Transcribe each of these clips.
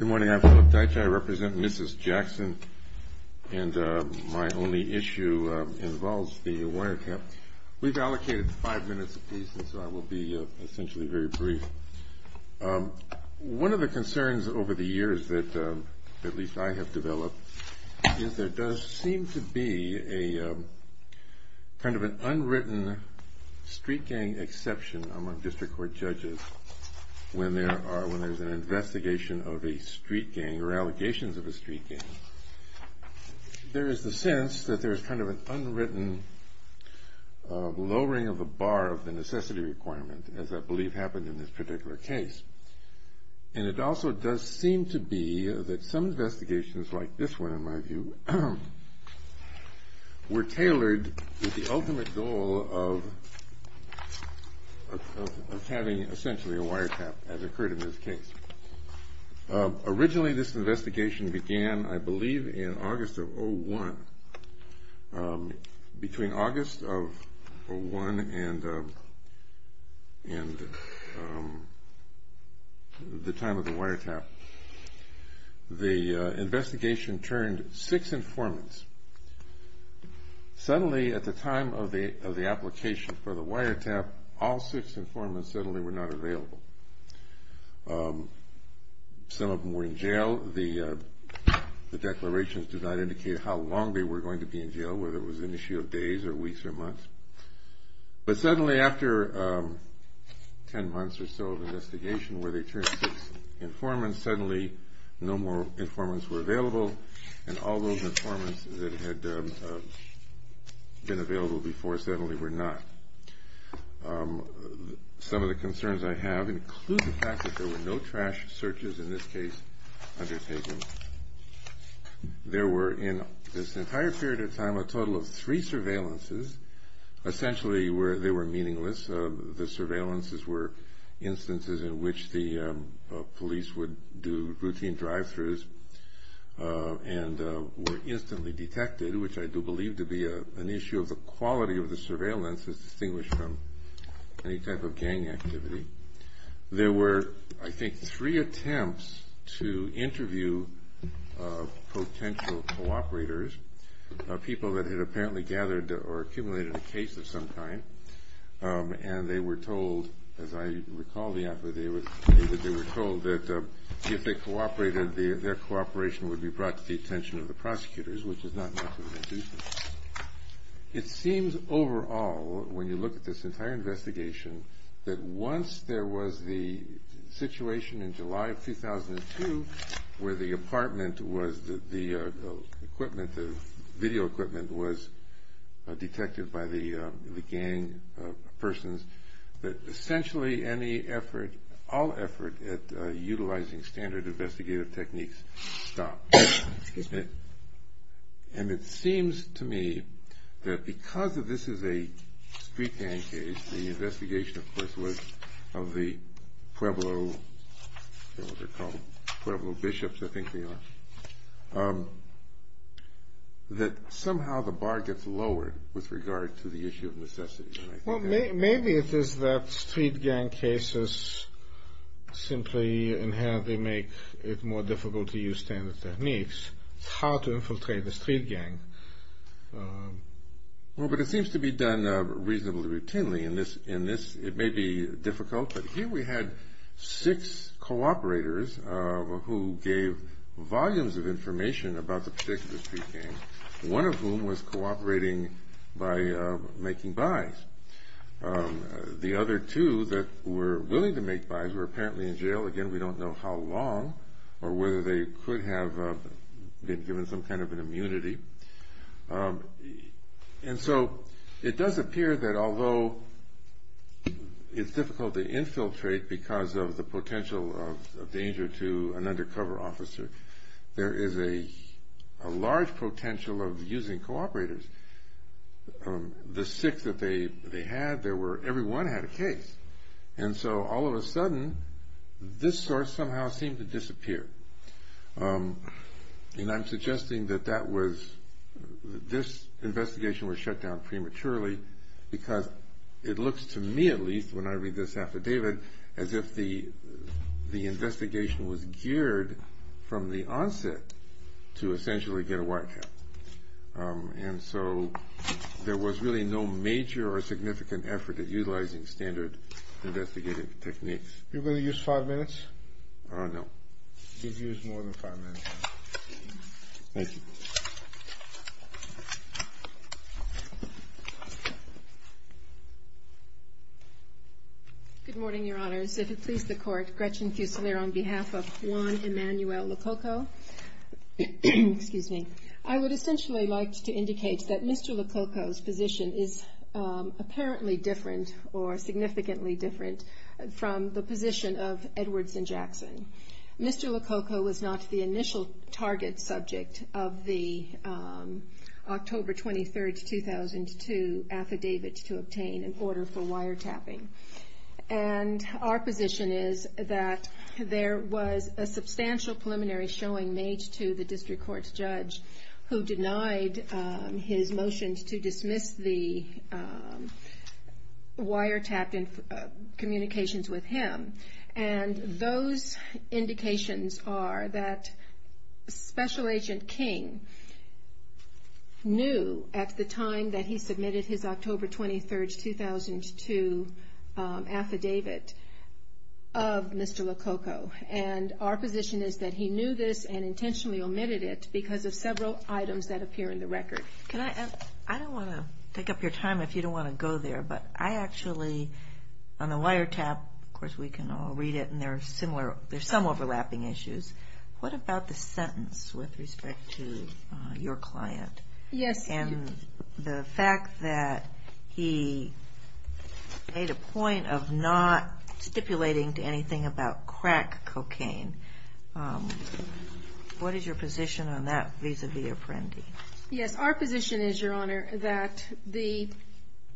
Good morning, I'm Philip Deitch. I represent Mrs. Jackson. And my only issue involves the wire cap. We've allocated five minutes apiece. And so I will be essentially very brief. One of the concerns over the years that at least I have developed is there does seem to be a kind of an unwritten street gang exception among district court judges when there are, when there's an investigation of a street gang or allegations of a street gang. There is the sense that there is kind of an unwritten lowering of the bar of the necessity requirement as I believe happened in this particular case. And it also does seem to be that some investigations like this one in my view were tailored with the ultimate goal of having essentially a wire cap as occurred in this case. Originally this investigation began I believe in August of 01. Between August of 01 and the time of the wire cap, the investigation turned six informants. Suddenly at the time of the application for the wire cap, all six informants suddenly were not available. Some of them were in jail. The declarations did not indicate how long they were going to be in jail, whether it was an issue of days or weeks or months. But suddenly after ten months or so of investigation where they turned six informants, suddenly no more informants were available and all those informants that had been available before suddenly were not. Some of the concerns I have include the fact that there were no trash searches in this case undertaken. There were in this entire period of time a total of three surveillances. Essentially they were meaningless. The surveillances were instances in which the police would do routine drive-thrus and were instantly detected, which I do believe to be an issue of the quality of the surveillances distinguished from any type of gang activity. There were I think three attempts to interview potential cooperators, people that had apparently gathered or accumulated a case of some kind, and they were told, as I recall the effort, they were told that if they cooperated, their cooperation would be brought to the attention of the prosecutors, which is not much of an excuse. It seems overall, when you look at this entire investigation, that once there was the situation in July of 2002 where the apartment was, the equipment, the video equipment was detected by the gang persons, that essentially any effort, all effort at utilizing standard investigative techniques stopped. And it seems to me that because this is a street gang case, the investigation of course was of the Pueblo, I don't know what they're called, Pueblo bishops, I think they are, that somehow the bar gets lowered with regard to the issue of necessity. Well, maybe it is that street gang cases simply inherently make it more difficult to use standard techniques, it's hard to infiltrate the street gang. Well, but it seems to be done reasonably routinely, and this, it may be difficult, but here we had six cooperators who gave volumes of information about the particular street gang, one of whom was cooperating by making buys. The other two that were willing to make buys were apparently in jail, again, we don't know how long, or whether they could have been given some kind of an immunity, and so it does appear that although it's difficult to infiltrate because of the potential of danger to an undercover officer, there is a large potential of using cooperators. The six that they had, there were, everyone had a case, and so all of a sudden this source somehow seemed to disappear, and I'm suggesting that that was, this investigation was shut down prematurely because it looks to me at least when I read this affidavit as if the investigation was geared from the onset to essentially get a white cap. And so there was really no major or significant effort at utilizing standard investigative techniques. You're going to use five minutes? No. You've used more than five minutes. Thank you. Good morning, Your Honors. If it please the Court, Gretchen Fuselier on behalf of Juan Emanuel Lococo, excuse me. I would essentially like to indicate that Mr. Lococo's position is apparently different or significantly different from the position of Edwards and Jackson. Mr. Lococo was not the initial target subject of the October 23rd, 2002 affidavit to obtain an order for wiretapping. And our position is that there was a substantial preliminary showing made to the district court's judge who denied his motion to dismiss the wiretapping communications with him. And those indications are that Special Agent King knew at the time that he submitted his October 23rd, 2002 affidavit of Mr. Lococo. And our position is that he knew this and intentionally omitted it because of several items that appear in the record. I don't want to take up your time if you don't want to go there, but I actually, on the wiretap, of course we can all read it and there's some overlapping issues. What about the sentence with respect to your client? Yes. And the fact that he made a point of not stipulating to anything about crack cocaine. What is your position on that vis-a-vis Apprendi? Yes, our position is, Your Honor, that the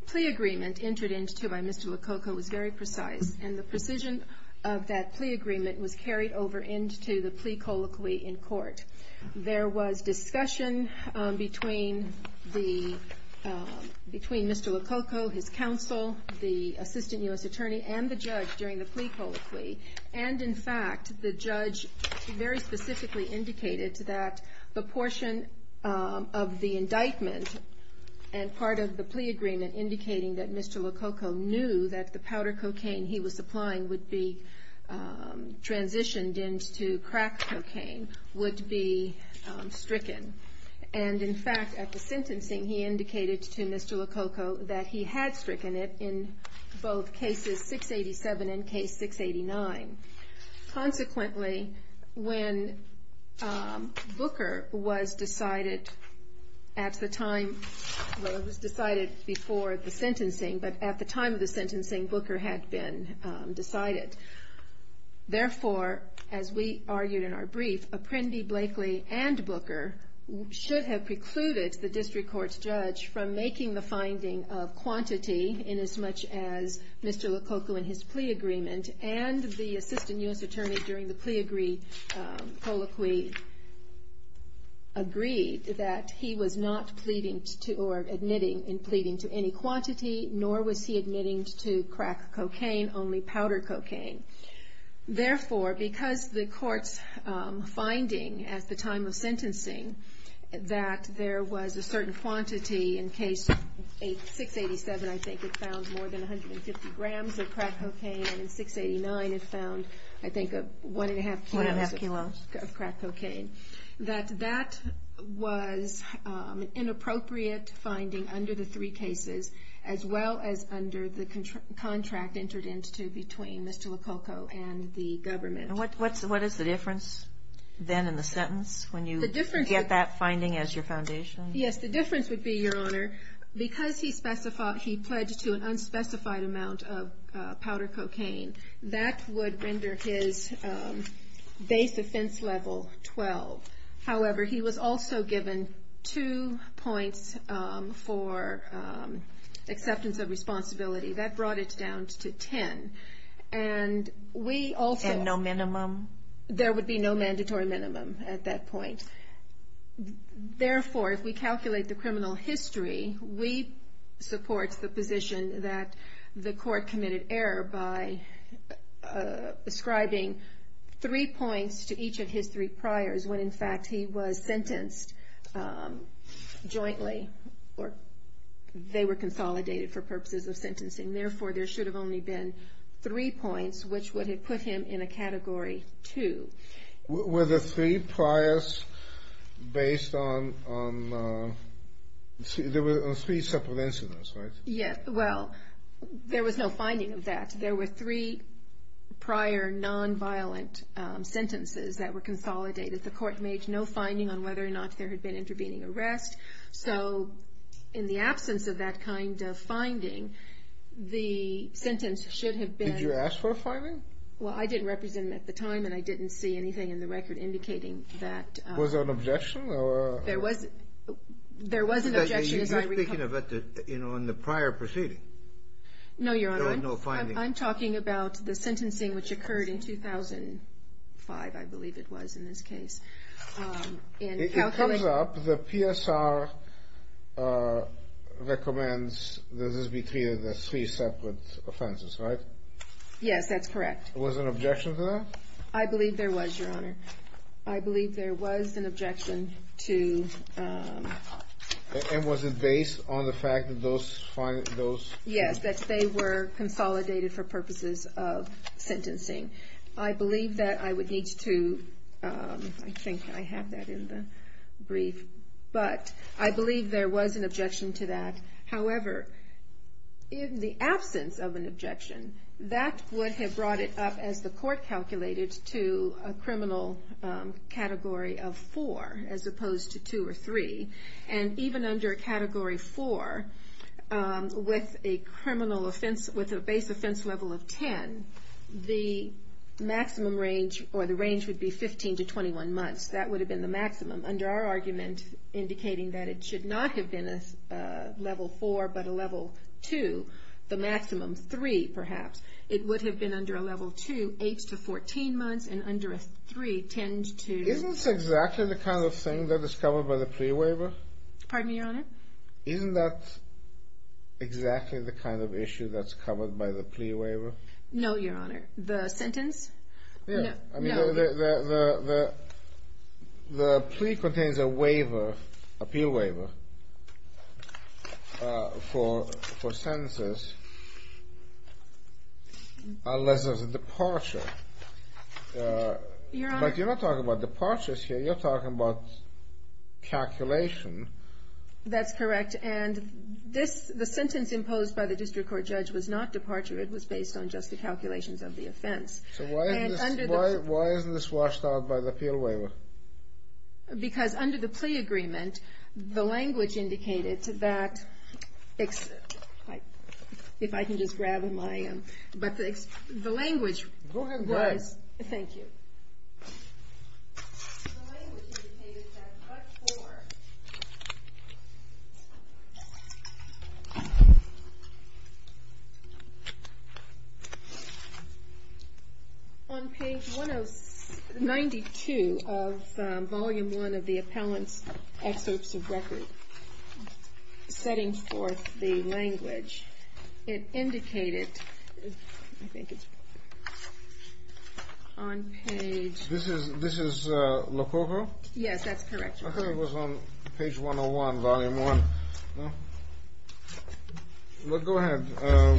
plea agreement entered into by Mr. Lococo was very precise. And the precision of that plea agreement was carried over into the plea colloquy in court. There was discussion between Mr. Lococo, his counsel, the assistant U.S. attorney, and the judge during the plea colloquy. And, in fact, the judge very specifically indicated that the portion of the indictment and part of the plea agreement indicating that Mr. Lococo knew that the powder cocaine he was supplying would be transitioned into crack cocaine would be stricken. And, in fact, at the sentencing, he indicated to Mr. Lococo that he had stricken it in both cases 687 and case 689. Consequently, when Booker was decided at the time, well, it was decided before the sentencing, but at the time of the sentencing, Booker had been decided. Therefore, as we argued in our brief, Apprendi, Blakely, and Booker should have precluded the district court's judge from making the finding of quantity inasmuch as Mr. Lococo in his plea agreement and the assistant U.S. attorney during the plea colloquy agreed that he was not pleading or admitting in pleading to any quantity, nor was he admitting to crack cocaine, only powder cocaine. Therefore, because the court's finding at the time of sentencing that there was a certain quantity in case 687, I think, it found more than 150 grams of crack cocaine, and in 689 it found, I think, one and a half kilos of crack cocaine, that that was an inappropriate finding under the three cases, as well as under the contract entered into between Mr. Lococo and Mr. Lococo. And the government. And what is the difference then in the sentence when you get that finding as your foundation? Yes, the difference would be, Your Honor, because he pledged to an unspecified amount of powder cocaine, that would render his base offense level 12. However, he was also given two points for acceptance of responsibility. That brought it down to 10. And we also. And no minimum? There would be no mandatory minimum at that point. Therefore, if we calculate the criminal history, we support the position that the court committed error by ascribing three points to each of his three priors when, in fact, he was sentenced jointly, or they were consolidated for purposes of sentencing. And therefore, there should have only been three points, which would have put him in a Category 2. Were the three priors based on, there were three separate incidents, right? Yes. Well, there was no finding of that. There were three prior nonviolent sentences that were consolidated. The court made no finding on whether or not there had been intervening arrest. So, in the absence of that kind of finding, the sentence should have been. Did you ask for a finding? Well, I didn't represent him at the time, and I didn't see anything in the record indicating that. Was there an objection? There was an objection. You're speaking on the prior proceeding. No, Your Honor. I'm talking about the sentencing which occurred in 2005, I believe it was, in this case. It comes up, the PSR recommends that this be treated as three separate offenses, right? Yes, that's correct. Was there an objection to that? I believe there was, Your Honor. I believe there was an objection to. And was it based on the fact that those. Yes, that they were consolidated for purposes of sentencing. I believe that I would need to, I think I have that in the brief, but I believe there was an objection to that. However, in the absence of an objection, that would have brought it up, as the court calculated, to a criminal category of four, as opposed to two or three. And even under category four, with a criminal offense, with a base offense level of 10, the maximum range, or the range would be 15 to 21 months. That would have been the maximum. Under our argument, indicating that it should not have been a level four, but a level two, the maximum three, perhaps, it would have been under a level two, eight to 14 months, and under a three tend to. Isn't this exactly the kind of thing that is covered by the plea waiver? Pardon me, Your Honor? Isn't that exactly the kind of issue that's covered by the plea waiver? No, Your Honor. The sentence? No. I mean, the plea contains a waiver, appeal waiver, for sentences, unless there's a departure. Your Honor. But you're not talking about departures here. You're talking about calculation. That's correct. And the sentence imposed by the district court judge was not departure. It was based on just the calculations of the offense. So why isn't this washed out by the appeal waiver? Because under the plea agreement, the language indicated that, if I can just grab my, but the language was, thank you. The language indicated that, but for, on page 92 of volume one of the appellant's excerpts of record, setting forth the language, it indicated, I think it's, on page. This is Lococo? Yes, that's correct, Your Honor. I thought it was on page 101, volume one. Well, go ahead.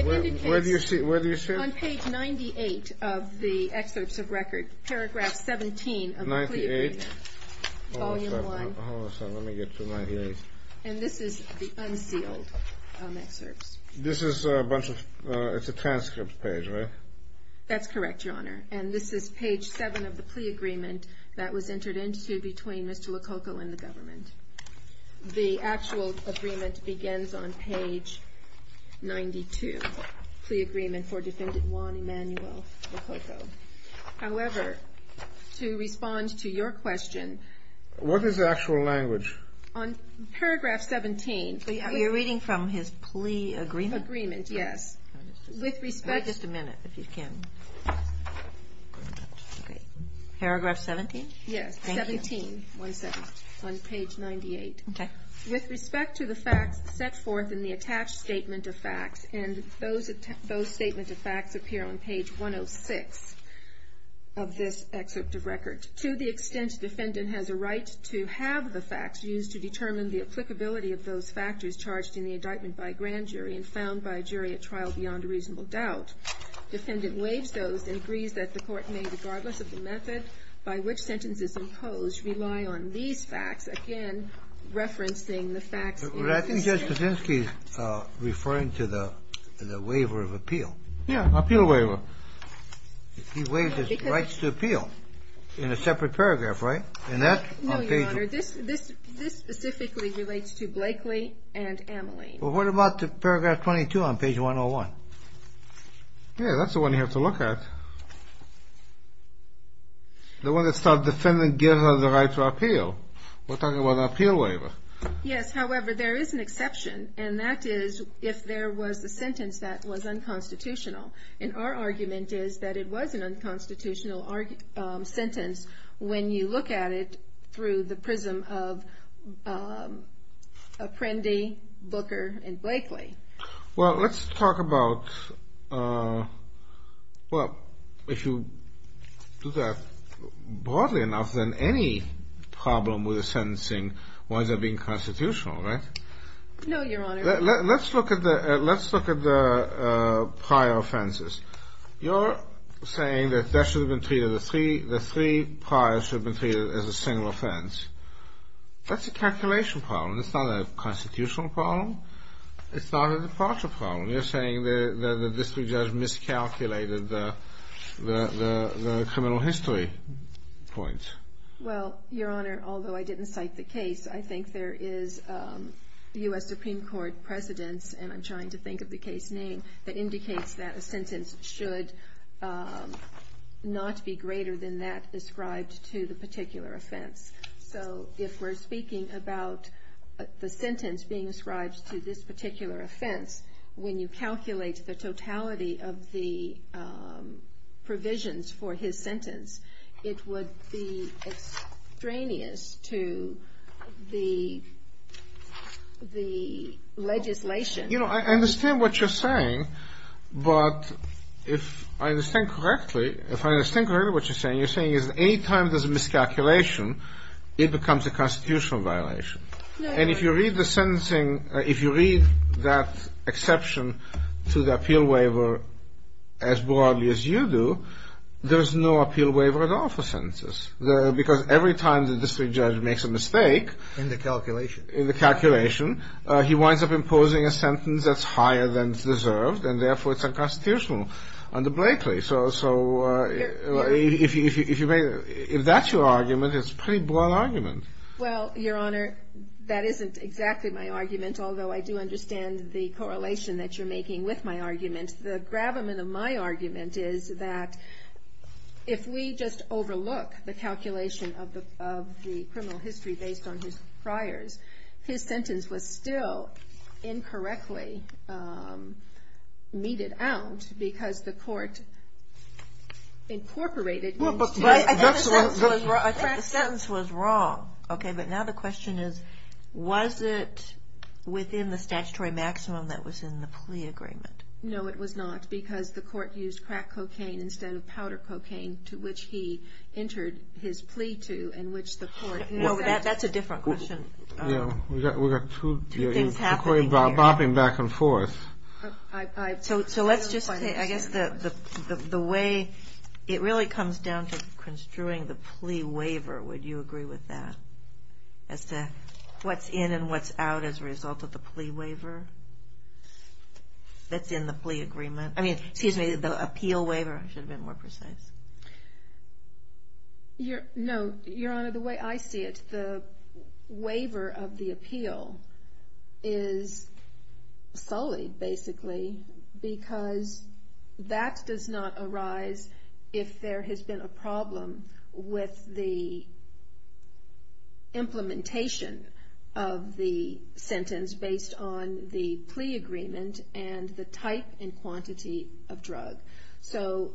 Where do you see, where do you see it? On page 98 of the excerpts of record, paragraph 17 of the plea agreement. 98? Volume one. Hold on a second. Let me get to 98. And this is the unsealed excerpts. This is a bunch of, it's a transcript page, right? That's correct, Your Honor. And this is page seven of the plea agreement that was entered into between Mr. Lococo and the government. The actual agreement begins on page 92, plea agreement for defendant Juan Emanuel Lococo. However, to respond to your question. What is the actual language? On paragraph 17. You're reading from his plea agreement? Agreement, yes. With respect. Just a minute, if you can. Okay. Paragraph 17? Yes, 17. One second. On page 98. Okay. With respect to the facts set forth in the attached statement of facts, and those statement of facts appear on page 106 of this excerpt of record. To the extent defendant has a right to have the facts used to determine the applicability of the law beyond a reasonable doubt, defendant waives those and agrees that the court may, regardless of the method by which sentence is imposed, rely on these facts. Again, referencing the facts. But I think Judge Kaczynski is referring to the waiver of appeal. Yeah, appeal waiver. He waives his rights to appeal in a separate paragraph, right? And that's on page. No, Your Honor. This specifically relates to Blakely and Ameline. What about paragraph 22 on page 101? Yeah, that's the one you have to look at. The one that says defendant gives her the right to appeal. We're talking about an appeal waiver. Yes, however, there is an exception, and that is if there was a sentence that was unconstitutional. And our argument is that it was an unconstitutional sentence when you look at it through the prism of Prendy, Booker, and Blakely. Well, let's talk about... Well, if you do that broadly enough, then any problem with the sentencing winds up being constitutional, right? No, Your Honor. Let's look at the prior offenses. You're saying that the three prior should have been treated as a single offense. That's a calculation problem. It's not a constitutional problem. It's not a departure problem. You're saying that the district judge miscalculated the criminal history point. Well, Your Honor, although I didn't cite the case, I think there is U.S. Supreme Court precedence, and I'm trying to think of the case name, that indicates that a sentence should not be greater than that ascribed to the particular offense. So if we're speaking about the sentence being ascribed to this particular offense, when you calculate the totality of the provisions for his sentence, it would be extraneous to the legislation. You know, I understand what you're saying. But if I understand correctly, if I understand correctly what you're saying, is that any time there's a miscalculation, it becomes a constitutional violation. And if you read the sentencing, if you read that exception to the appeal waiver as broadly as you do, there's no appeal waiver at all for sentences, because every time the district judge makes a mistake in the calculation, he winds up imposing a sentence that's higher than it's deserved, and therefore it's unconstitutional under Blakely. So if that's your argument, it's a pretty broad argument. Well, Your Honor, that isn't exactly my argument, although I do understand the correlation that you're making with my argument. The gravamen of my argument is that if we just overlook the calculation of the criminal history based on his priors, his sentence was still incorrectly meted out, because the court incorporated... I think the sentence was wrong, okay? But now the question is, was it within the statutory maximum that was in the plea agreement? No, it was not, because the court used crack cocaine instead of powder cocaine, to which he entered his plea to, and which the court... No, that's a different question. Yeah, we've got two things happening here. The court is bopping back and forth. So let's just say, I guess the way... It really comes down to construing the plea waiver, would you agree with that? As to what's in and what's out as a result of the plea waiver that's in the plea agreement? I mean, excuse me, the appeal waiver, I should have been more precise. No, Your Honor, the way I see it, the waiver of the appeal is sullied, basically, because that does not arise if there has been a problem with the implementation of the sentence based on the plea agreement and the type and quantity of drug. So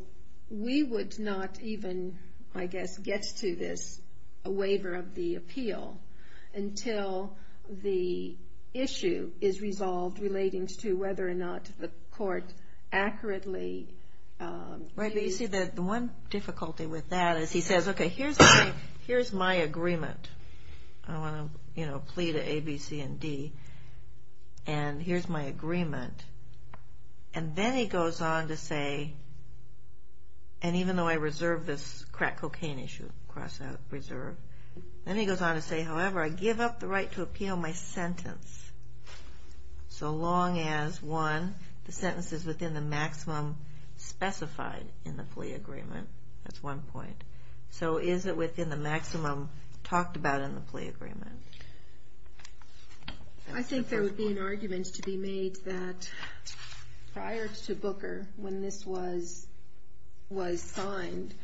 we would not even, I guess, get to this waiver of the appeal until the issue is resolved relating to whether or not the court accurately... Right, but you see that the one difficulty with that is he says, okay, here's my agreement. I want to, you know, plea to A, B, C, and D, and here's my agreement. And then he goes on to say, and even though I reserve this crack cocaine issue, cross out, reserve, then he goes on to say, however, I give up the right to appeal my sentence so long as, one, the sentence is within the maximum specified in the plea agreement. That's one point. So is it within the maximum talked about in the plea agreement? I think there would be an argument to be made that prior to Booker, when this was signed,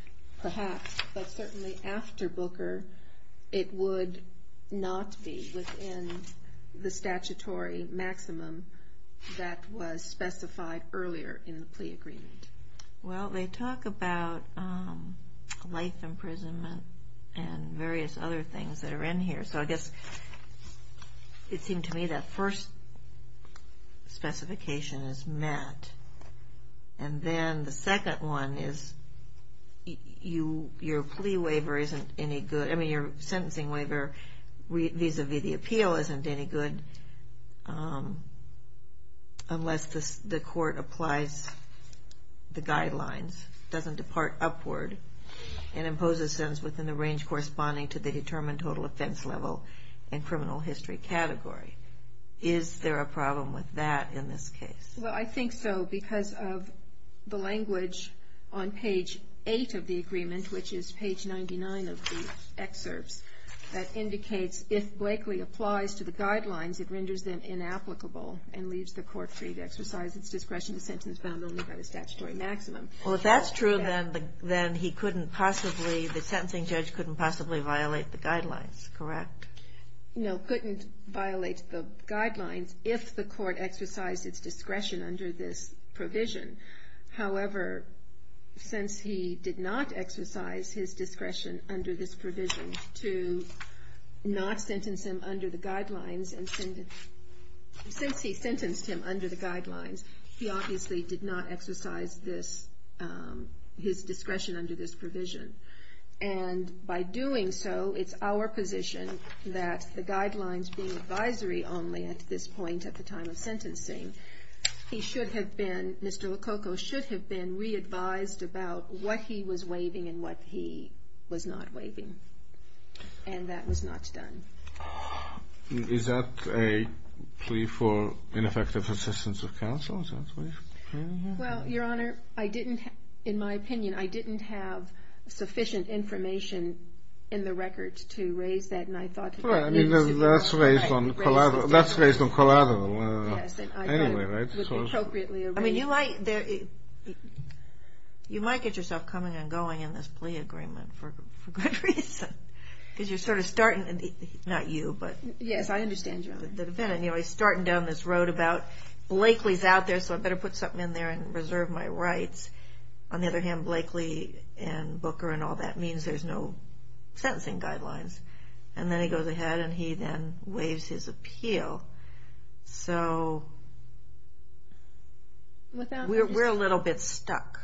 perhaps, but certainly after Booker, it would not be within the statutory maximum that was specified earlier in the plea agreement. Well, they talk about life imprisonment and various other things that are in here. So I guess it seemed to me that first specification is met, and then the second one is your plea waiver isn't any good. I mean, your sentencing waiver vis-a-vis the appeal isn't any good unless the court applies the guidelines, doesn't depart upward, and imposes sentence within the range corresponding to the determined total offense level and criminal history category. Is there a problem with that in this case? Well, I think so because of the language on page eight of the agreement, which is page 99 of the excerpts, that indicates if Blakely applies to the guidelines, it renders them inapplicable and leaves the court free to exercise its discretion to sentence bound only by the statutory maximum. Well, if that's true, then he couldn't possibly, the sentencing judge couldn't possibly violate the guidelines, correct? No, couldn't violate the guidelines if the court exercised its discretion under this provision. However, since he did not exercise his discretion under this provision to not sentence him under the guidelines, since he sentenced him under the guidelines, he obviously did not exercise this, his discretion under this provision. And by doing so, it's our position that the guidelines being advisory only at this point at the time of sentencing, he should have been, Mr. Lococo should have been re-advised about what he was waiving and what he was not waiving. And that was not done. Is that a plea for ineffective assistance of counsel? Well, Your Honor, I didn't, in my opinion, I didn't have sufficient information in the record to raise that. And I thought that's raised on collateral anyway, right? I mean, you might, you might get yourself coming and going in this plea agreement for good reason, because you're sort of starting, not you, but... Yes, I understand, Your Honor. The defendant, you know, he's starting down this road about Blakely's out there, so I better put something in there and reserve my rights. On the other hand, Blakely and Booker and all that means there's no sentencing guidelines. And then he goes ahead and he then waives his appeal. So we're a little bit stuck.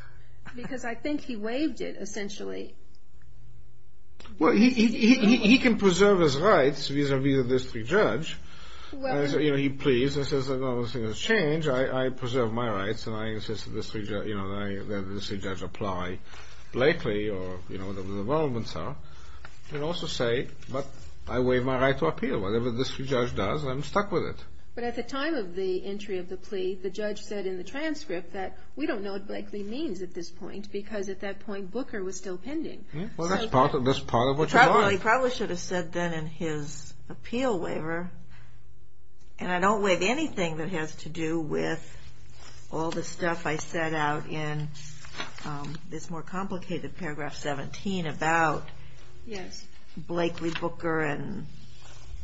Because I think he waived it, essentially. Well, he can preserve his rights vis-à-vis the district judge. You know, he pleads and says, I don't want to see this change, I preserve my rights, and I insist that the district judge apply Blakely, or, you know, whatever the requirements are. He can also say, but I waive my right to appeal, whatever the district judge does, I'm stuck with it. But at the time of the entry of the plea, the judge said in the transcript that we don't know what Blakely means at this point, because at that point, Booker was still pending. Well, that's part of what you want. He probably should have said then in his appeal waiver, and I don't waive anything that has to do with all the stuff I set out in this more complicated paragraph 17 about Blakely, Booker, and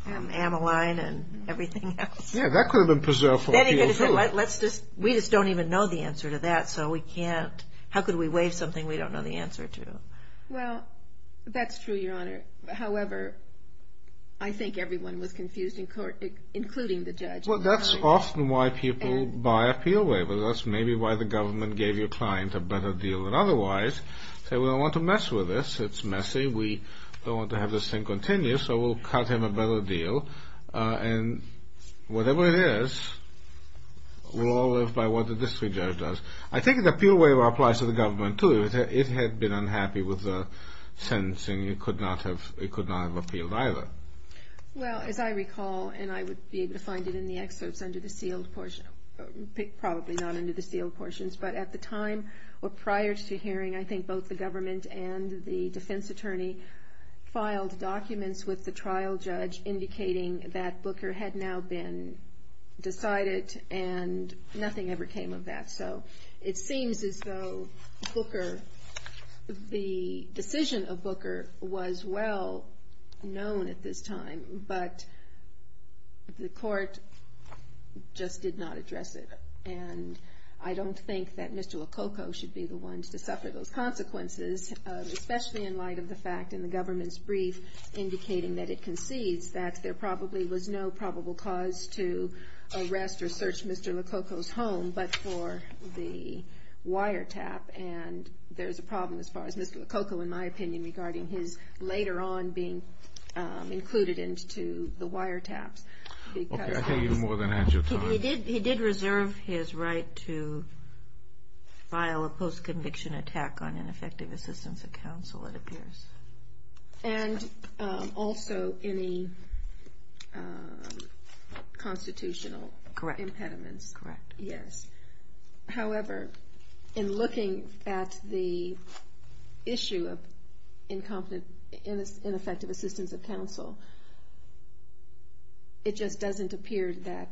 Amaline, and everything else. Yeah, that could have been preserved for appeal, too. Let's just, we just don't even know the answer to that. So we can't, how could we waive something we don't know the answer to? Well, that's true, Your Honor. However, I think everyone was confused in court, including the judge. Well, that's often why people buy appeal waivers. That's maybe why the government gave your client a better deal than otherwise. Say, we don't want to mess with this. It's messy. We don't want to have this thing continue, so we'll cut him a better deal. And whatever it is, we'll all live by what the district judge does. I think the appeal waiver applies to the government, too. It had been unhappy with the sentencing. It could not have appealed either. Well, as I recall, and I would be able to find it in the excerpts under the sealed portion, probably not under the sealed portions, but at the time, or prior to hearing, I think both the government and the defense attorney filed documents with the trial judge indicating that Booker had now been decided, and nothing ever came of that. It seems as though the decision of Booker was well known at this time, but the court just did not address it. And I don't think that Mr. Lococo should be the ones to suffer those consequences, especially in light of the fact, in the government's brief, indicating that it concedes that there probably was no probable cause to arrest or search Mr. Lococo's home, but for the wiretap. And there's a problem, as far as Mr. Lococo, in my opinion, regarding his later on being included into the wiretaps. Okay, I think you've more than had your time. He did reserve his right to file a post-conviction attack on ineffective assistance of counsel, it appears. And also any constitutional impediments. Correct. Yes, however, in looking at the issue of ineffective assistance of counsel, it just doesn't appear that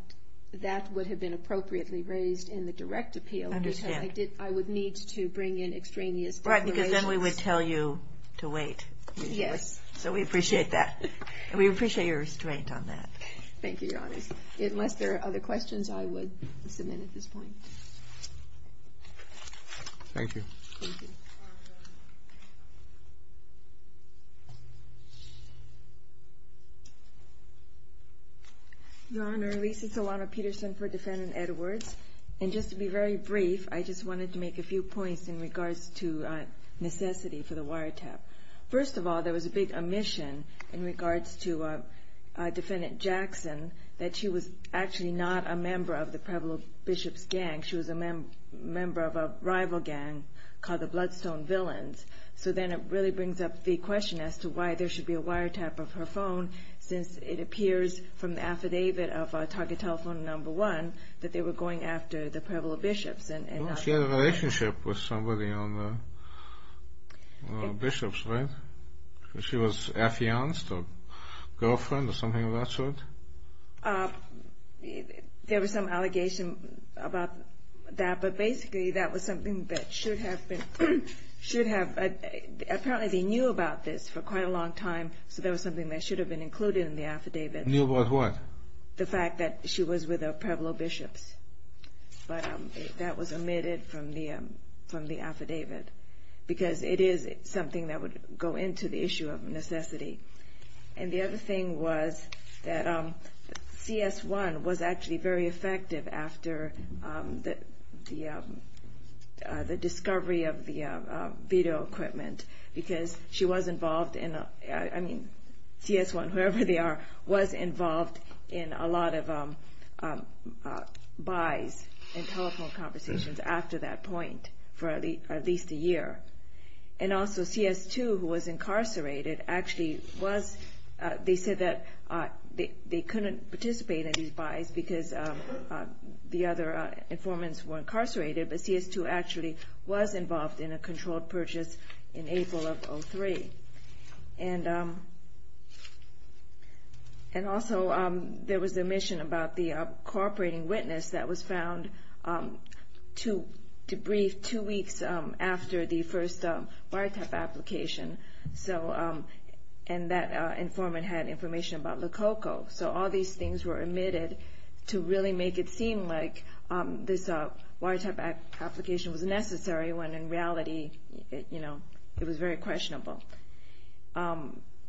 that would have been appropriately raised in the direct appeal. I understand. I would need to bring in extraneous declarations. Right, because then we would tell you to wait. Yes. So we appreciate that. And we appreciate your restraint on that. Thank you, Your Honor. Unless there are other questions, I would submit at this point. Thank you. Your Honor, Lisa Solano-Peterson for Defendant Edwards. And just to be very brief, I just wanted to make a few points in regards to necessity for the wiretap. First of all, there was a big omission in regards to Defendant Jackson that she was actually not a member of the Pueblo Bishops' gang. She was a member of a rival gang called the Bloodstone Villains. So then it really brings up the question as to why there should be a wiretap of her phone since it appears from the affidavit of Target Telephone Number One that they were going after the Pueblo Bishops. Well, she had a relationship with somebody on the Bishops, right? She was affianced or girlfriend or something of that sort. There was some allegation about that, but basically that was something that should have been, should have, apparently they knew about this for quite a long time. So there was something that should have been included in the affidavit. Knew about what? The fact that she was with the Pueblo Bishops. But that was omitted from the affidavit because it is something that would go into the issue of necessity. And the other thing was that CS1 was actually very effective after the discovery of the video equipment because she was involved in, I mean, CS1, whoever they are, was involved in a lot of buys in telephone conversations after that point for at least a year. And also CS2 who was incarcerated actually was, they said that they couldn't participate in these buys because the other informants were incarcerated, but CS2 actually was involved in a controlled purchase in April of 03. And also there was the omission about the cooperating witness that was found to debrief two weeks after the first biotech application. So, and that informant had information about Lococo. So all these things were omitted to really make it seem like this biotech application was necessary when in reality, it was very questionable.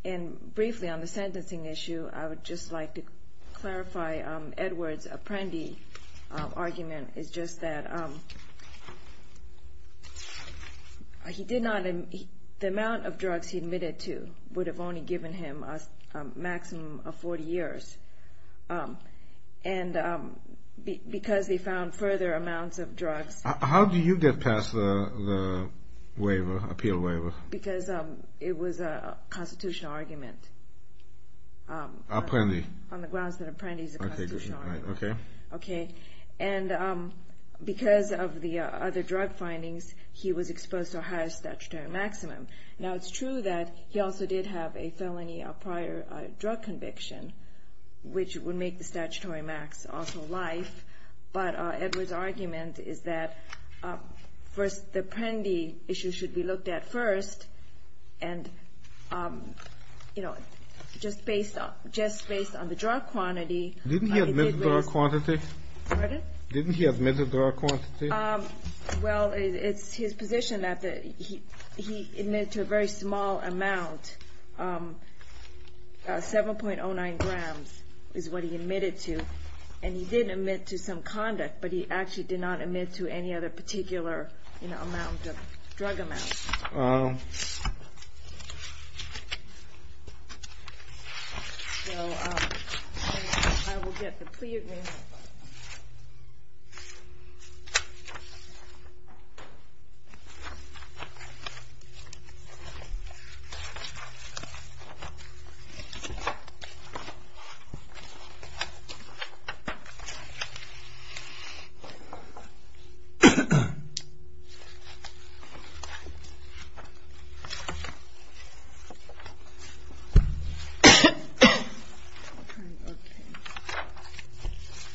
And briefly on the sentencing issue, I would just like to clarify Edward's Apprendi argument is just that he did not, the amount of drugs he admitted to would have only given him a maximum of 40 years. And because they found further amounts of drugs. How do you get past the appeal waiver? Because it was a constitutional argument. Apprendi. On the grounds that Apprendi is a constitutional argument. Okay. Okay. And because of the other drug findings, he was exposed to a higher statutory maximum. Now it's true that he also did have a felony prior drug conviction, which would make the statutory max also life. But Edward's argument is that first the Apprendi issue should be looked at first. And, you know, just based on the drug quantity. Didn't he admit the drug quantity? Pardon? Didn't he admit the drug quantity? Um, well, it's his position that he admitted to a very small amount. 7.09 grams is what he admitted to. And he did admit to some conduct, but he actually did not admit to any other particular, you know, amount of drug amounts. So I will get the plea agreement. Okay.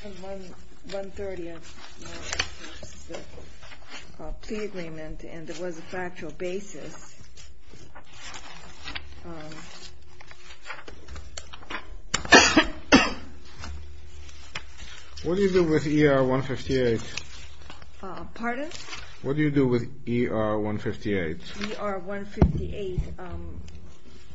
So what do you do with ER-158? ER-158.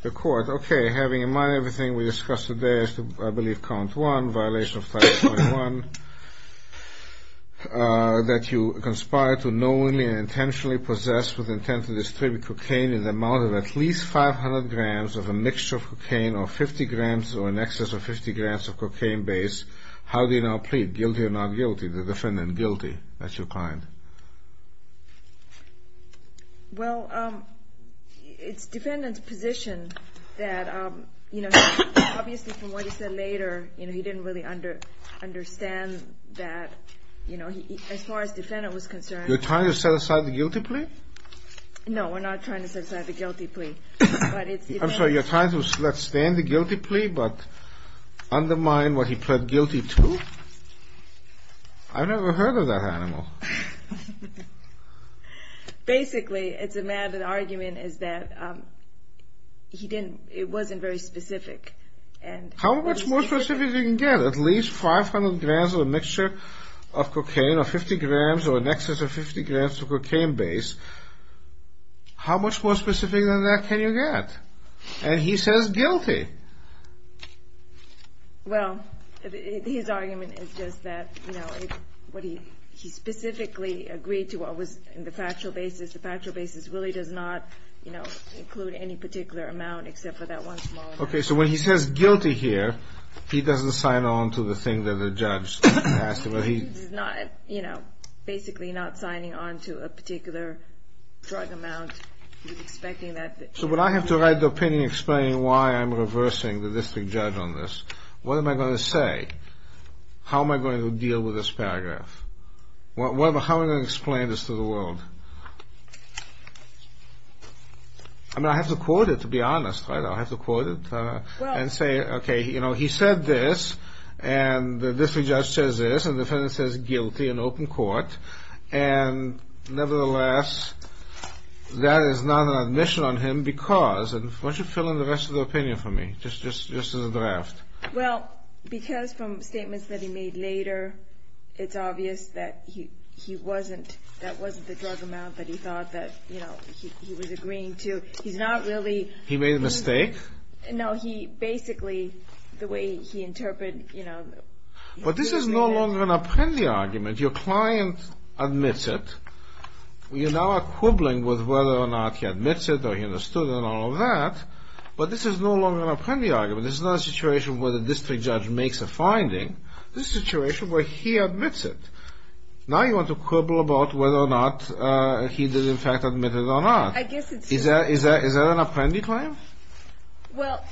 The court, okay, having in mind everything we discussed today, I believe count one, violation of Title 21, that you conspire to knowingly and intentionally possess with intent to distribute cocaine in the amount of at least 500 grams of a mixture of cocaine or 50 grams or in excess of 50 grams of cocaine base. How do you now plead? Guilty or not guilty? The defendant guilty. That's your client. Well, it's defendant's position that, you know, obviously from what he said later, you know, he didn't really understand that, you know, as far as defendant was concerned. You're trying to set aside the guilty plea? No, we're not trying to set aside the guilty plea. I'm sorry, you're trying to let stand the guilty plea but undermine what he pled guilty to? I've never heard of that animal. Basically, it's a maddened argument is that he didn't, it wasn't very specific. How much more specific can you get? At least 500 grams of a mixture of cocaine or 50 grams or in excess of 50 grams of cocaine base. How much more specific than that can you get? And he says guilty. Well, his argument is just that, you know, what he, he specifically agreed to what was in the factual basis, the factual basis really does not, you know, include any particular amount except for that one small amount. Okay, so when he says guilty here, he doesn't sign on to the thing that the judge asked him, but he's not, you know, basically not signing on to a particular drug amount. So, but I have to write the opinion explaining why I'm reversing the district judge on this. What am I going to say? How am I going to deal with this paragraph? How am I going to explain this to the world? I mean, I have to quote it to be honest, right? I have to quote it and say, okay, you know, he said this and the district judge says this and the defendant says guilty in open court. And nevertheless, that is not an admission on him because, and why don't you fill in the rest of the opinion for me, just as a draft. Well, because from statements that he made later, it's obvious that he wasn't, that wasn't the drug amount that he thought that, you know, he was agreeing to. He's not really... He made a mistake? No, he basically, the way he interpreted, you know... But this is no longer an apprendi argument. Your client admits it. You now are quibbling with whether or not he admits it or he understood and all of that, but this is no longer an apprendi argument. This is not a situation where the district judge makes a finding. This is a situation where he admits it. Now you want to quibble about whether or not he did in fact admit it or not. I guess it's... Is that an apprendi claim? Well,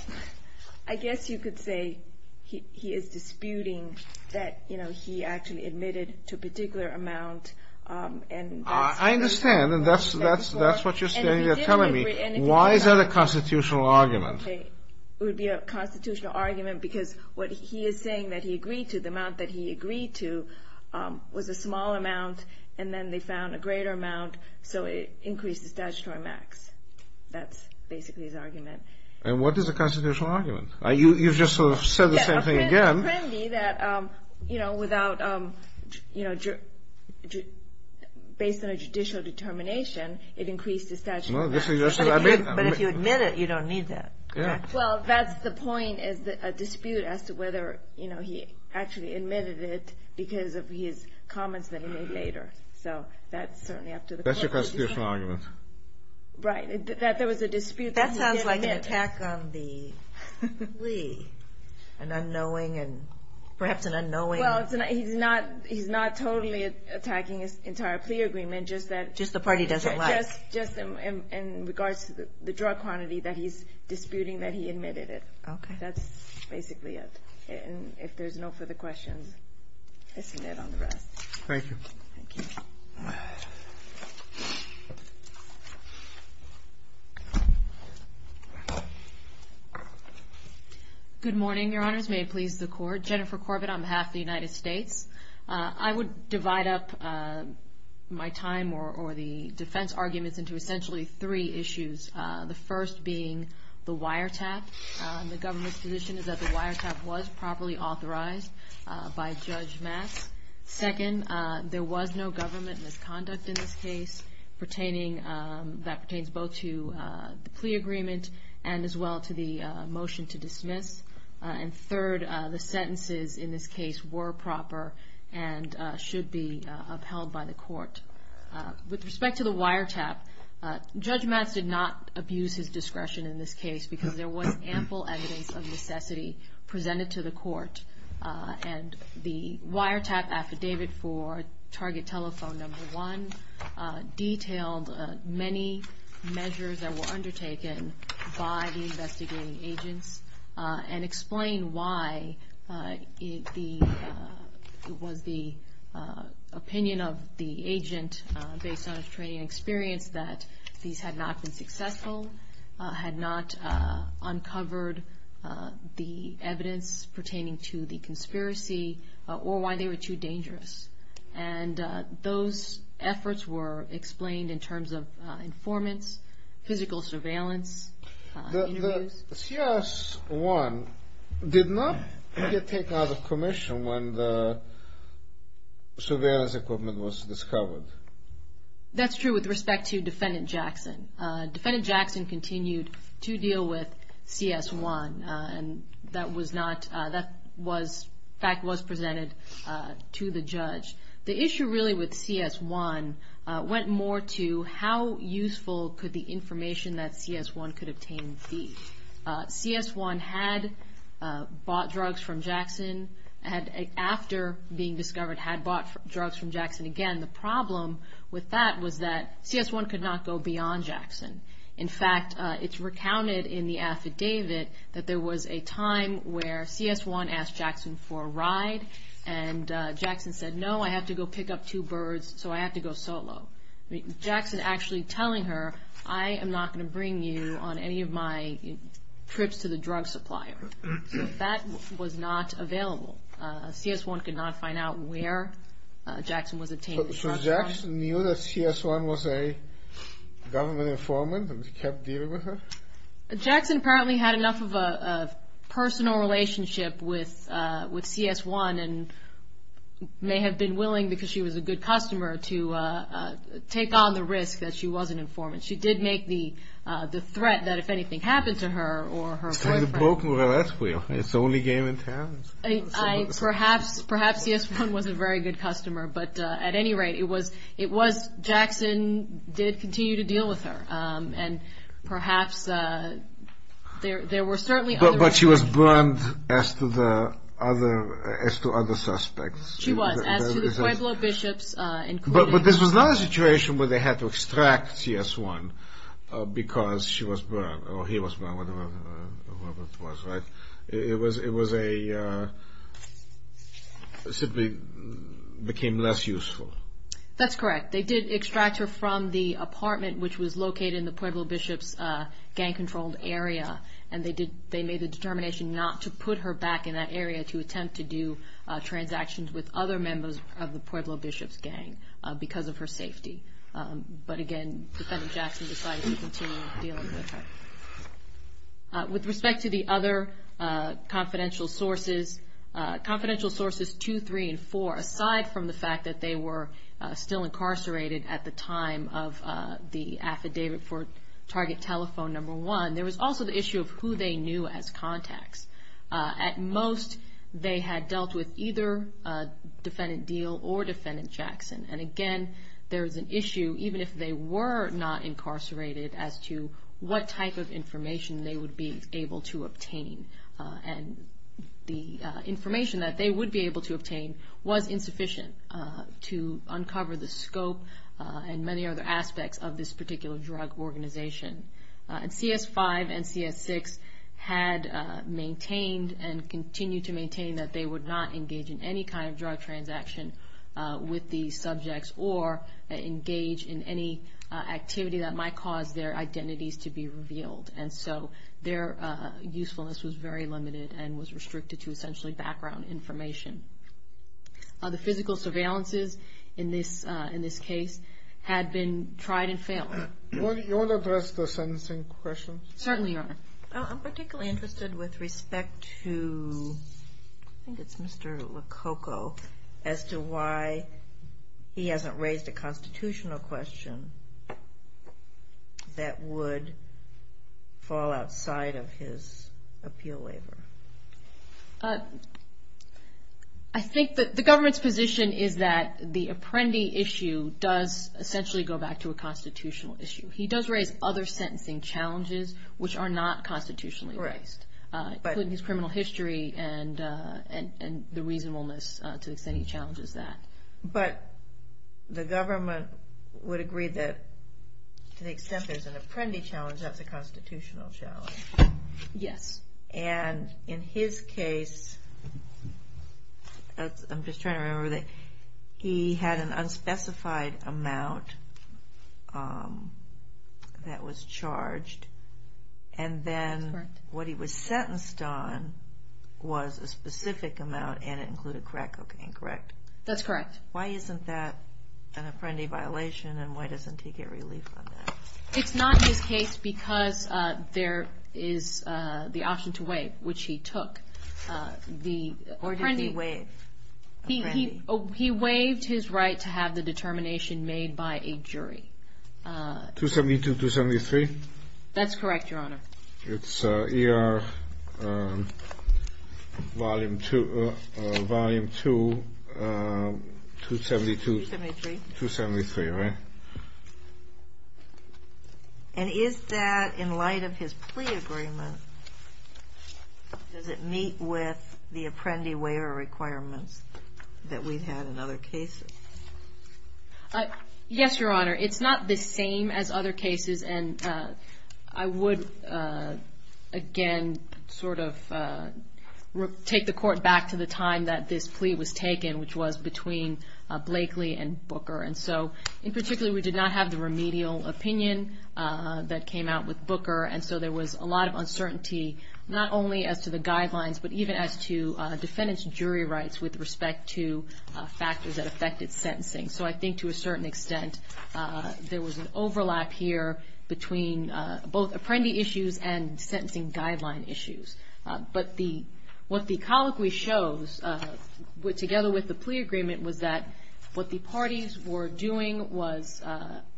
I guess you could say he is disputing that, you know, he actually admitted to a particular amount and... I understand and that's what you're telling me. Why is that a constitutional argument? It would be a constitutional argument because what he is saying that he agreed to, the amount that he agreed to was a small amount and then they found a greater amount, so it increased the statutory max. That's basically his argument. And what is a constitutional argument? You've just sort of said the same thing again. Apprendi that, you know, without, you know, based on a judicial determination, it increased the statutory max. But if you admit it, you don't need that. Well, that's the point is a dispute as to whether, you know, he actually admitted it because of his comments that he made later. So that's certainly up to the court. That's your constitutional argument. Right, that there was a dispute. That sounds like an attack on the plea. An unknowing and perhaps an unknowing... Well, he's not totally attacking his entire plea agreement, just that... Just the party doesn't like. Just in regards to the drug quantity that he's disputing that he admitted it. Okay. That's basically it. And if there's no further questions, this is it on the rest. Thank you. Okay. Good morning, Your Honors. May it please the court. Jennifer Corbett on behalf of the United States. I would divide up my time or the defense arguments into essentially three issues. The first being the wiretap. The government's position is that the wiretap was properly authorized by Judge Mass. Second, there was no government misconduct in this case. That pertains both to the plea agreement and as well to the motion to dismiss. And third, the sentences in this case were proper and should be upheld by the court. With respect to the wiretap, Judge Mass did not abuse his discretion in this case because there was ample evidence of necessity presented to the court. And the wiretap affidavit for target telephone number one detailed many measures that were undertaken by the investigating agents and explained why it was the opinion of the agent based on his training and experience that these had not been successful, had not uncovered the evidence pertaining to the conspiracy, or why they were too dangerous. And those efforts were explained in terms of informants, physical surveillance. The CS-1 did not get taken out of commission when the surveillance equipment was discovered. That's true with respect to Defendant Jackson. Defendant Jackson continued to deal with CS-1 and that fact was presented to the judge. The issue really with CS-1 went more to how useful could the information that CS-1 could obtain be. CS-1 had bought drugs from Jackson after being discovered, had bought drugs from Jackson again. The problem with that was that CS-1 could not go beyond Jackson. In fact, it's recounted in the affidavit that there was a time where CS-1 asked Jackson for a ride and Jackson said, no, I have to go pick up two birds, so I have to go solo. Jackson actually telling her, I am not going to bring you on any of my trips to the drug supplier. That was not available. CS-1 could not find out where Jackson was obtained the drugs from. So Jackson knew that CS-1 was a government informant and kept dealing with her? Jackson apparently had enough of a personal relationship with CS-1 and may have been willing, because she was a good customer, to take on the risk that she was an informant. She did make the threat that if anything happened to her or her boyfriend. It's kind of a broken wheel. It's the only game in town. Perhaps CS-1 was a very good customer, but at any rate, Jackson did continue to deal with her. Perhaps there were certainly other... But she was burned as to other suspects. She was, as to the Pueblo bishops, including... But this was not a situation where they had to extract CS-1 because she was burned, or he was burned, whatever it was, right? It was a... Simply became less useful. That's correct. They did extract her from the apartment, which was located in the Pueblo bishops gang-controlled area, and they made the determination not to put her back in that area to attempt to do transactions with other members of the Pueblo bishops gang because of her safety. But again, Defendant Jackson decided to continue dealing with her. With respect to the other confidential sources, confidential sources two, three, and four, aside from the fact that they were still incarcerated at the time of the affidavit for target telephone number one, there was also the issue of who they knew as contacts. At most, they had dealt with either Defendant Deal or Defendant Jackson. And again, there was an issue, even if they were not incarcerated, as to what type of information they would be able to obtain. And the information that they would be able to obtain was insufficient to uncover the scope and many other aspects of this particular drug organization. And CS-5 and CS-6 had maintained and continue to maintain that they would not engage in any kind of drug transaction with these subjects or engage in any activity that might cause their identities to be revealed. And so their usefulness was very limited and was restricted to essentially background information. The physical surveillances in this case had been tried and failed. Do you want to address the sentencing questions? Certainly, Your Honor. I'm particularly interested with respect to, I think it's Mr. Lococo, as to why he hasn't raised a constitutional question that would fall outside of his appeal waiver. I think that the government's position is that the Apprendi issue does essentially go back to a constitutional issue. He does raise other sentencing challenges which are not constitutionally based, including his criminal history and the reasonableness to the extent he challenges that. But the government would agree that to the extent there's an Apprendi challenge, that's a constitutional challenge. Yes. And in his case, I'm just trying to remember that he had an unspecified amount that was charged and then what he was sentenced on was a specific amount and it included crack cocaine, correct? That's correct. Why isn't that an Apprendi violation and why doesn't he get relief on that? It's not his case because there is the option to waive, which he took. Or did he waive Apprendi? He waived his right to have the determination made by a jury. 272-273? That's correct, Your Honor. It's ER Volume 2, 272-273, right? And is that in light of his plea agreement, does it meet with the Apprendi waiver requirements that we've had in other cases? Yes, Your Honor. It's not the same as other cases and I would, again, sort of take the court back to the time that this plea was taken, which was between Blakely and Booker. And so, in particular, we did not have the remedial opinion that came out with Booker and so there was a lot of uncertainty, not only as to the guidelines, but even as to factors that affected sentencing. So I think, to a certain extent, there was an overlap here between both Apprendi issues and sentencing guideline issues. But what the colloquy shows, together with the plea agreement, was that what the parties were doing was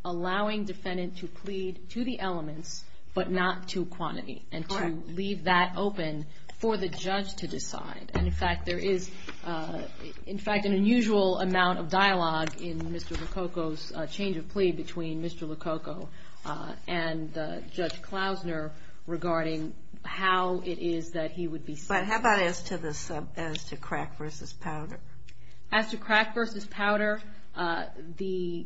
allowing defendant to plead to the elements but not to quantity and to leave that open for the judge to decide. And, in fact, there is, in fact, an unusual amount of dialogue in Mr. Lococo's change of plea between Mr. Lococo and Judge Klausner regarding how it is that he would be sent. But how about as to crack versus powder? As to crack versus powder, there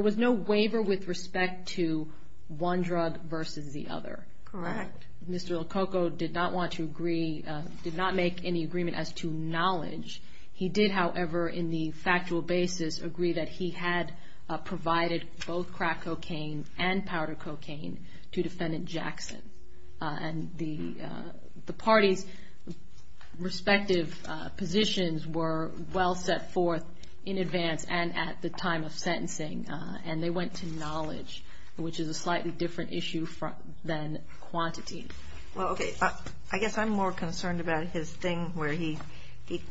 was no waiver with respect to one drug versus the other. Correct. Mr. Lococo did not want to agree, did not make any agreement as to knowledge. He did, however, in the factual basis, agree that he had provided both crack cocaine and powder cocaine to defendant Jackson. And the parties' respective positions were well set forth in advance and at the time of sentencing. And they went to knowledge, which is a slightly different issue than quantity. Well, okay, I guess I'm more concerned about his thing where he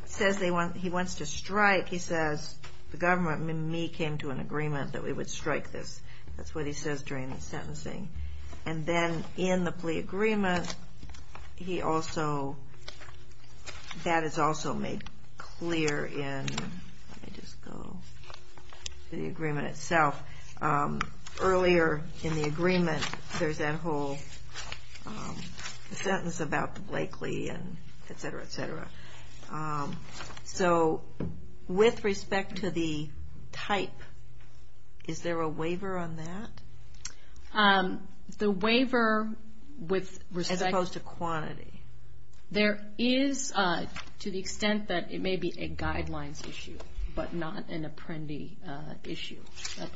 says he wants to strike. He says, the government and me came to an agreement that we would strike this. That's what he says during the sentencing. And then in the plea agreement, he also, that is also made clear in, let me just go to the plea itself, earlier in the agreement, there's that whole sentence about the Blakely and et cetera, et cetera. So with respect to the type, is there a waiver on that? The waiver with respect to quantity. There is to the extent that it may be a guidelines issue, but not an apprendee issue.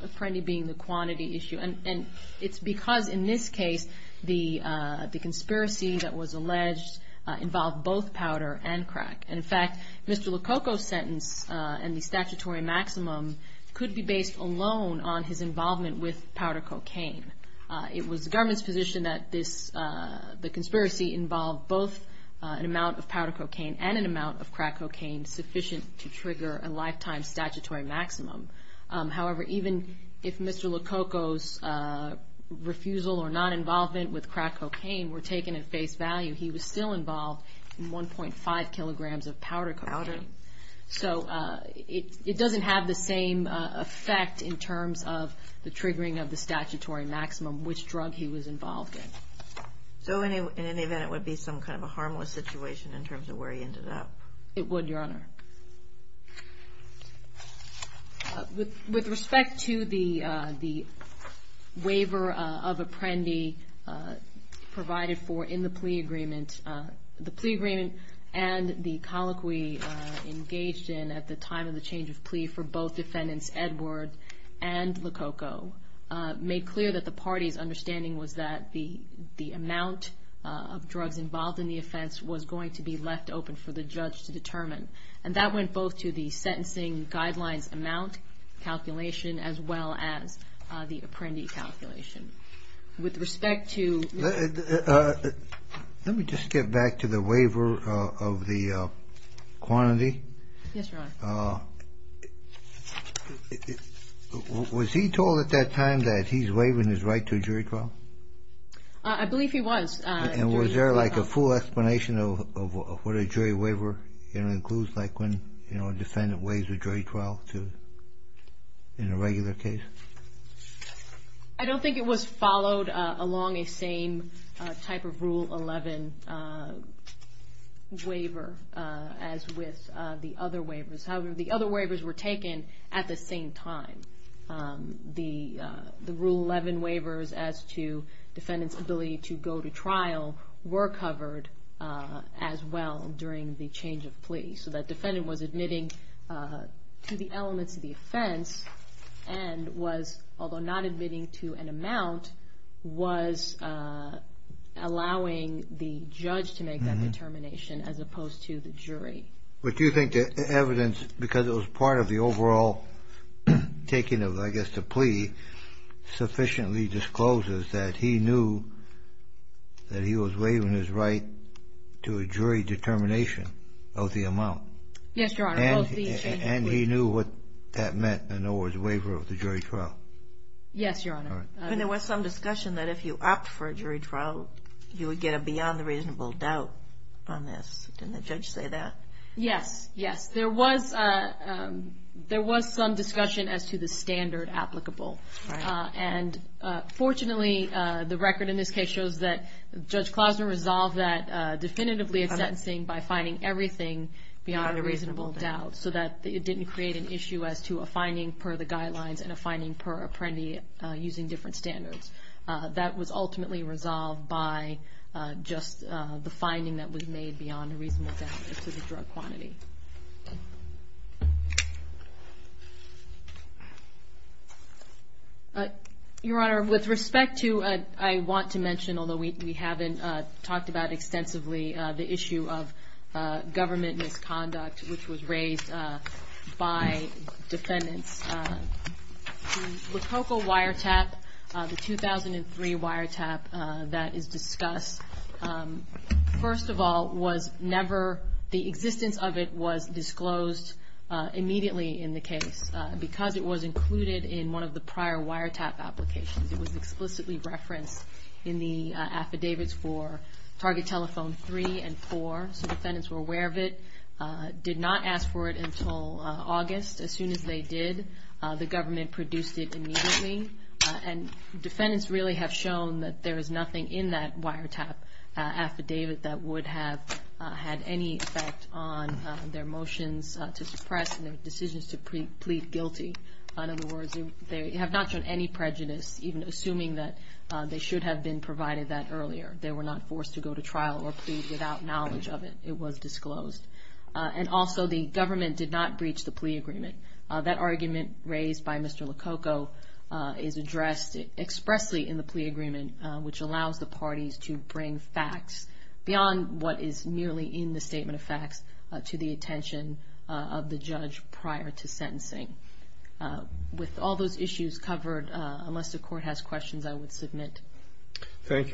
Apprendee being the quantity issue. And it's because in this case, the conspiracy that was alleged involved both powder and crack. And in fact, Mr. Lococo's sentence and the statutory maximum could be based alone on his involvement with powder cocaine. It was the government's position that this, the conspiracy involved both an amount of powder cocaine and an amount of crack cocaine sufficient to trigger a lifetime statutory maximum. However, even if Mr. Lococo's refusal or non-involvement with crack cocaine were taken at face value, he was still involved in 1.5 kilograms of powder cocaine. So it doesn't have the same effect in terms of the triggering of the statutory maximum, which drug he was involved in. So in any event, it would be some kind of a harmless situation in terms of where he ended up? It would, Your Honor. With respect to the waiver of apprendee provided for in the plea agreement, the plea agreement and the colloquy engaged in at the time of the change of plea for both defendants, Edward and Lococo, made clear that the party's understanding was that the amount of drugs involved in the offense was going to be left open for the judge to determine. And that went both to the sentencing guidelines amount calculation as well as the apprendee calculation. With respect to... Let me just get back to the waiver of the quantity. Yes, Your Honor. Was he told at that time that he's waiving his right to a jury trial? I believe he was. And was there like a full explanation of what a jury waiver includes? Like when a defendant waives a jury trial in a regular case? I don't think it was followed along a same type of Rule 11 waiver as with the other waivers. However, the other waivers were taken at the same time. The Rule 11 waivers as to defendant's ability to go to trial were covered as well during the change of plea. So that defendant was admitting to the elements of the offense and was, although not admitting to an amount, was allowing the judge to make that determination as opposed to the jury. But do you think the evidence, because it was part of the overall taking of, I guess, the plea, sufficiently discloses that he knew that he was waiving his right to a jury determination of the amount? Yes, Your Honor. And he knew what that meant in other words, waiver of the jury trial? Yes, Your Honor. And there was some discussion that if you opt for a jury trial, you would get a beyond the reasonable doubt on this. Didn't the judge say that? Yes. Yes. There was some discussion as to the standard applicable. And fortunately, the record in this case shows that Judge Klosner resolved that definitively in sentencing by finding everything beyond a reasonable doubt. So that it didn't create an issue as to a finding per the guidelines and a finding per apprendi using different standards. That was ultimately resolved by just the finding that was made beyond a reasonable doubt to the drug quantity. Your Honor, with respect to, I want to mention, although we haven't talked about extensively the issue of government misconduct, which was raised by defendants. The Lococo wiretap, the 2003 wiretap that is discussed, first of all, was never, the existence of it was disclosed immediately in the case because it was included in one of the prior wiretap applications. It was explicitly referenced in the affidavits for Target Telephone 3 and 4. So defendants were aware of it, did not ask for it until August. As soon as they did, the government produced it immediately. And defendants really have shown that there is nothing in that wiretap affidavit that would have had any effect on their motions to suppress and their decisions to plead guilty. In other words, they have not shown any prejudice, even assuming that they should have been provided that earlier. They were not forced to go to trial or plead without knowledge of it. It was disclosed. And also, the government did not breach the plea agreement. That argument raised by Mr. Lococo is addressed expressly in the plea agreement, which allows the parties to bring facts beyond what is merely in the statement of facts to the attention of the judge prior to sentencing. With all those issues covered, unless the Court has questions, I would submit. Thank you.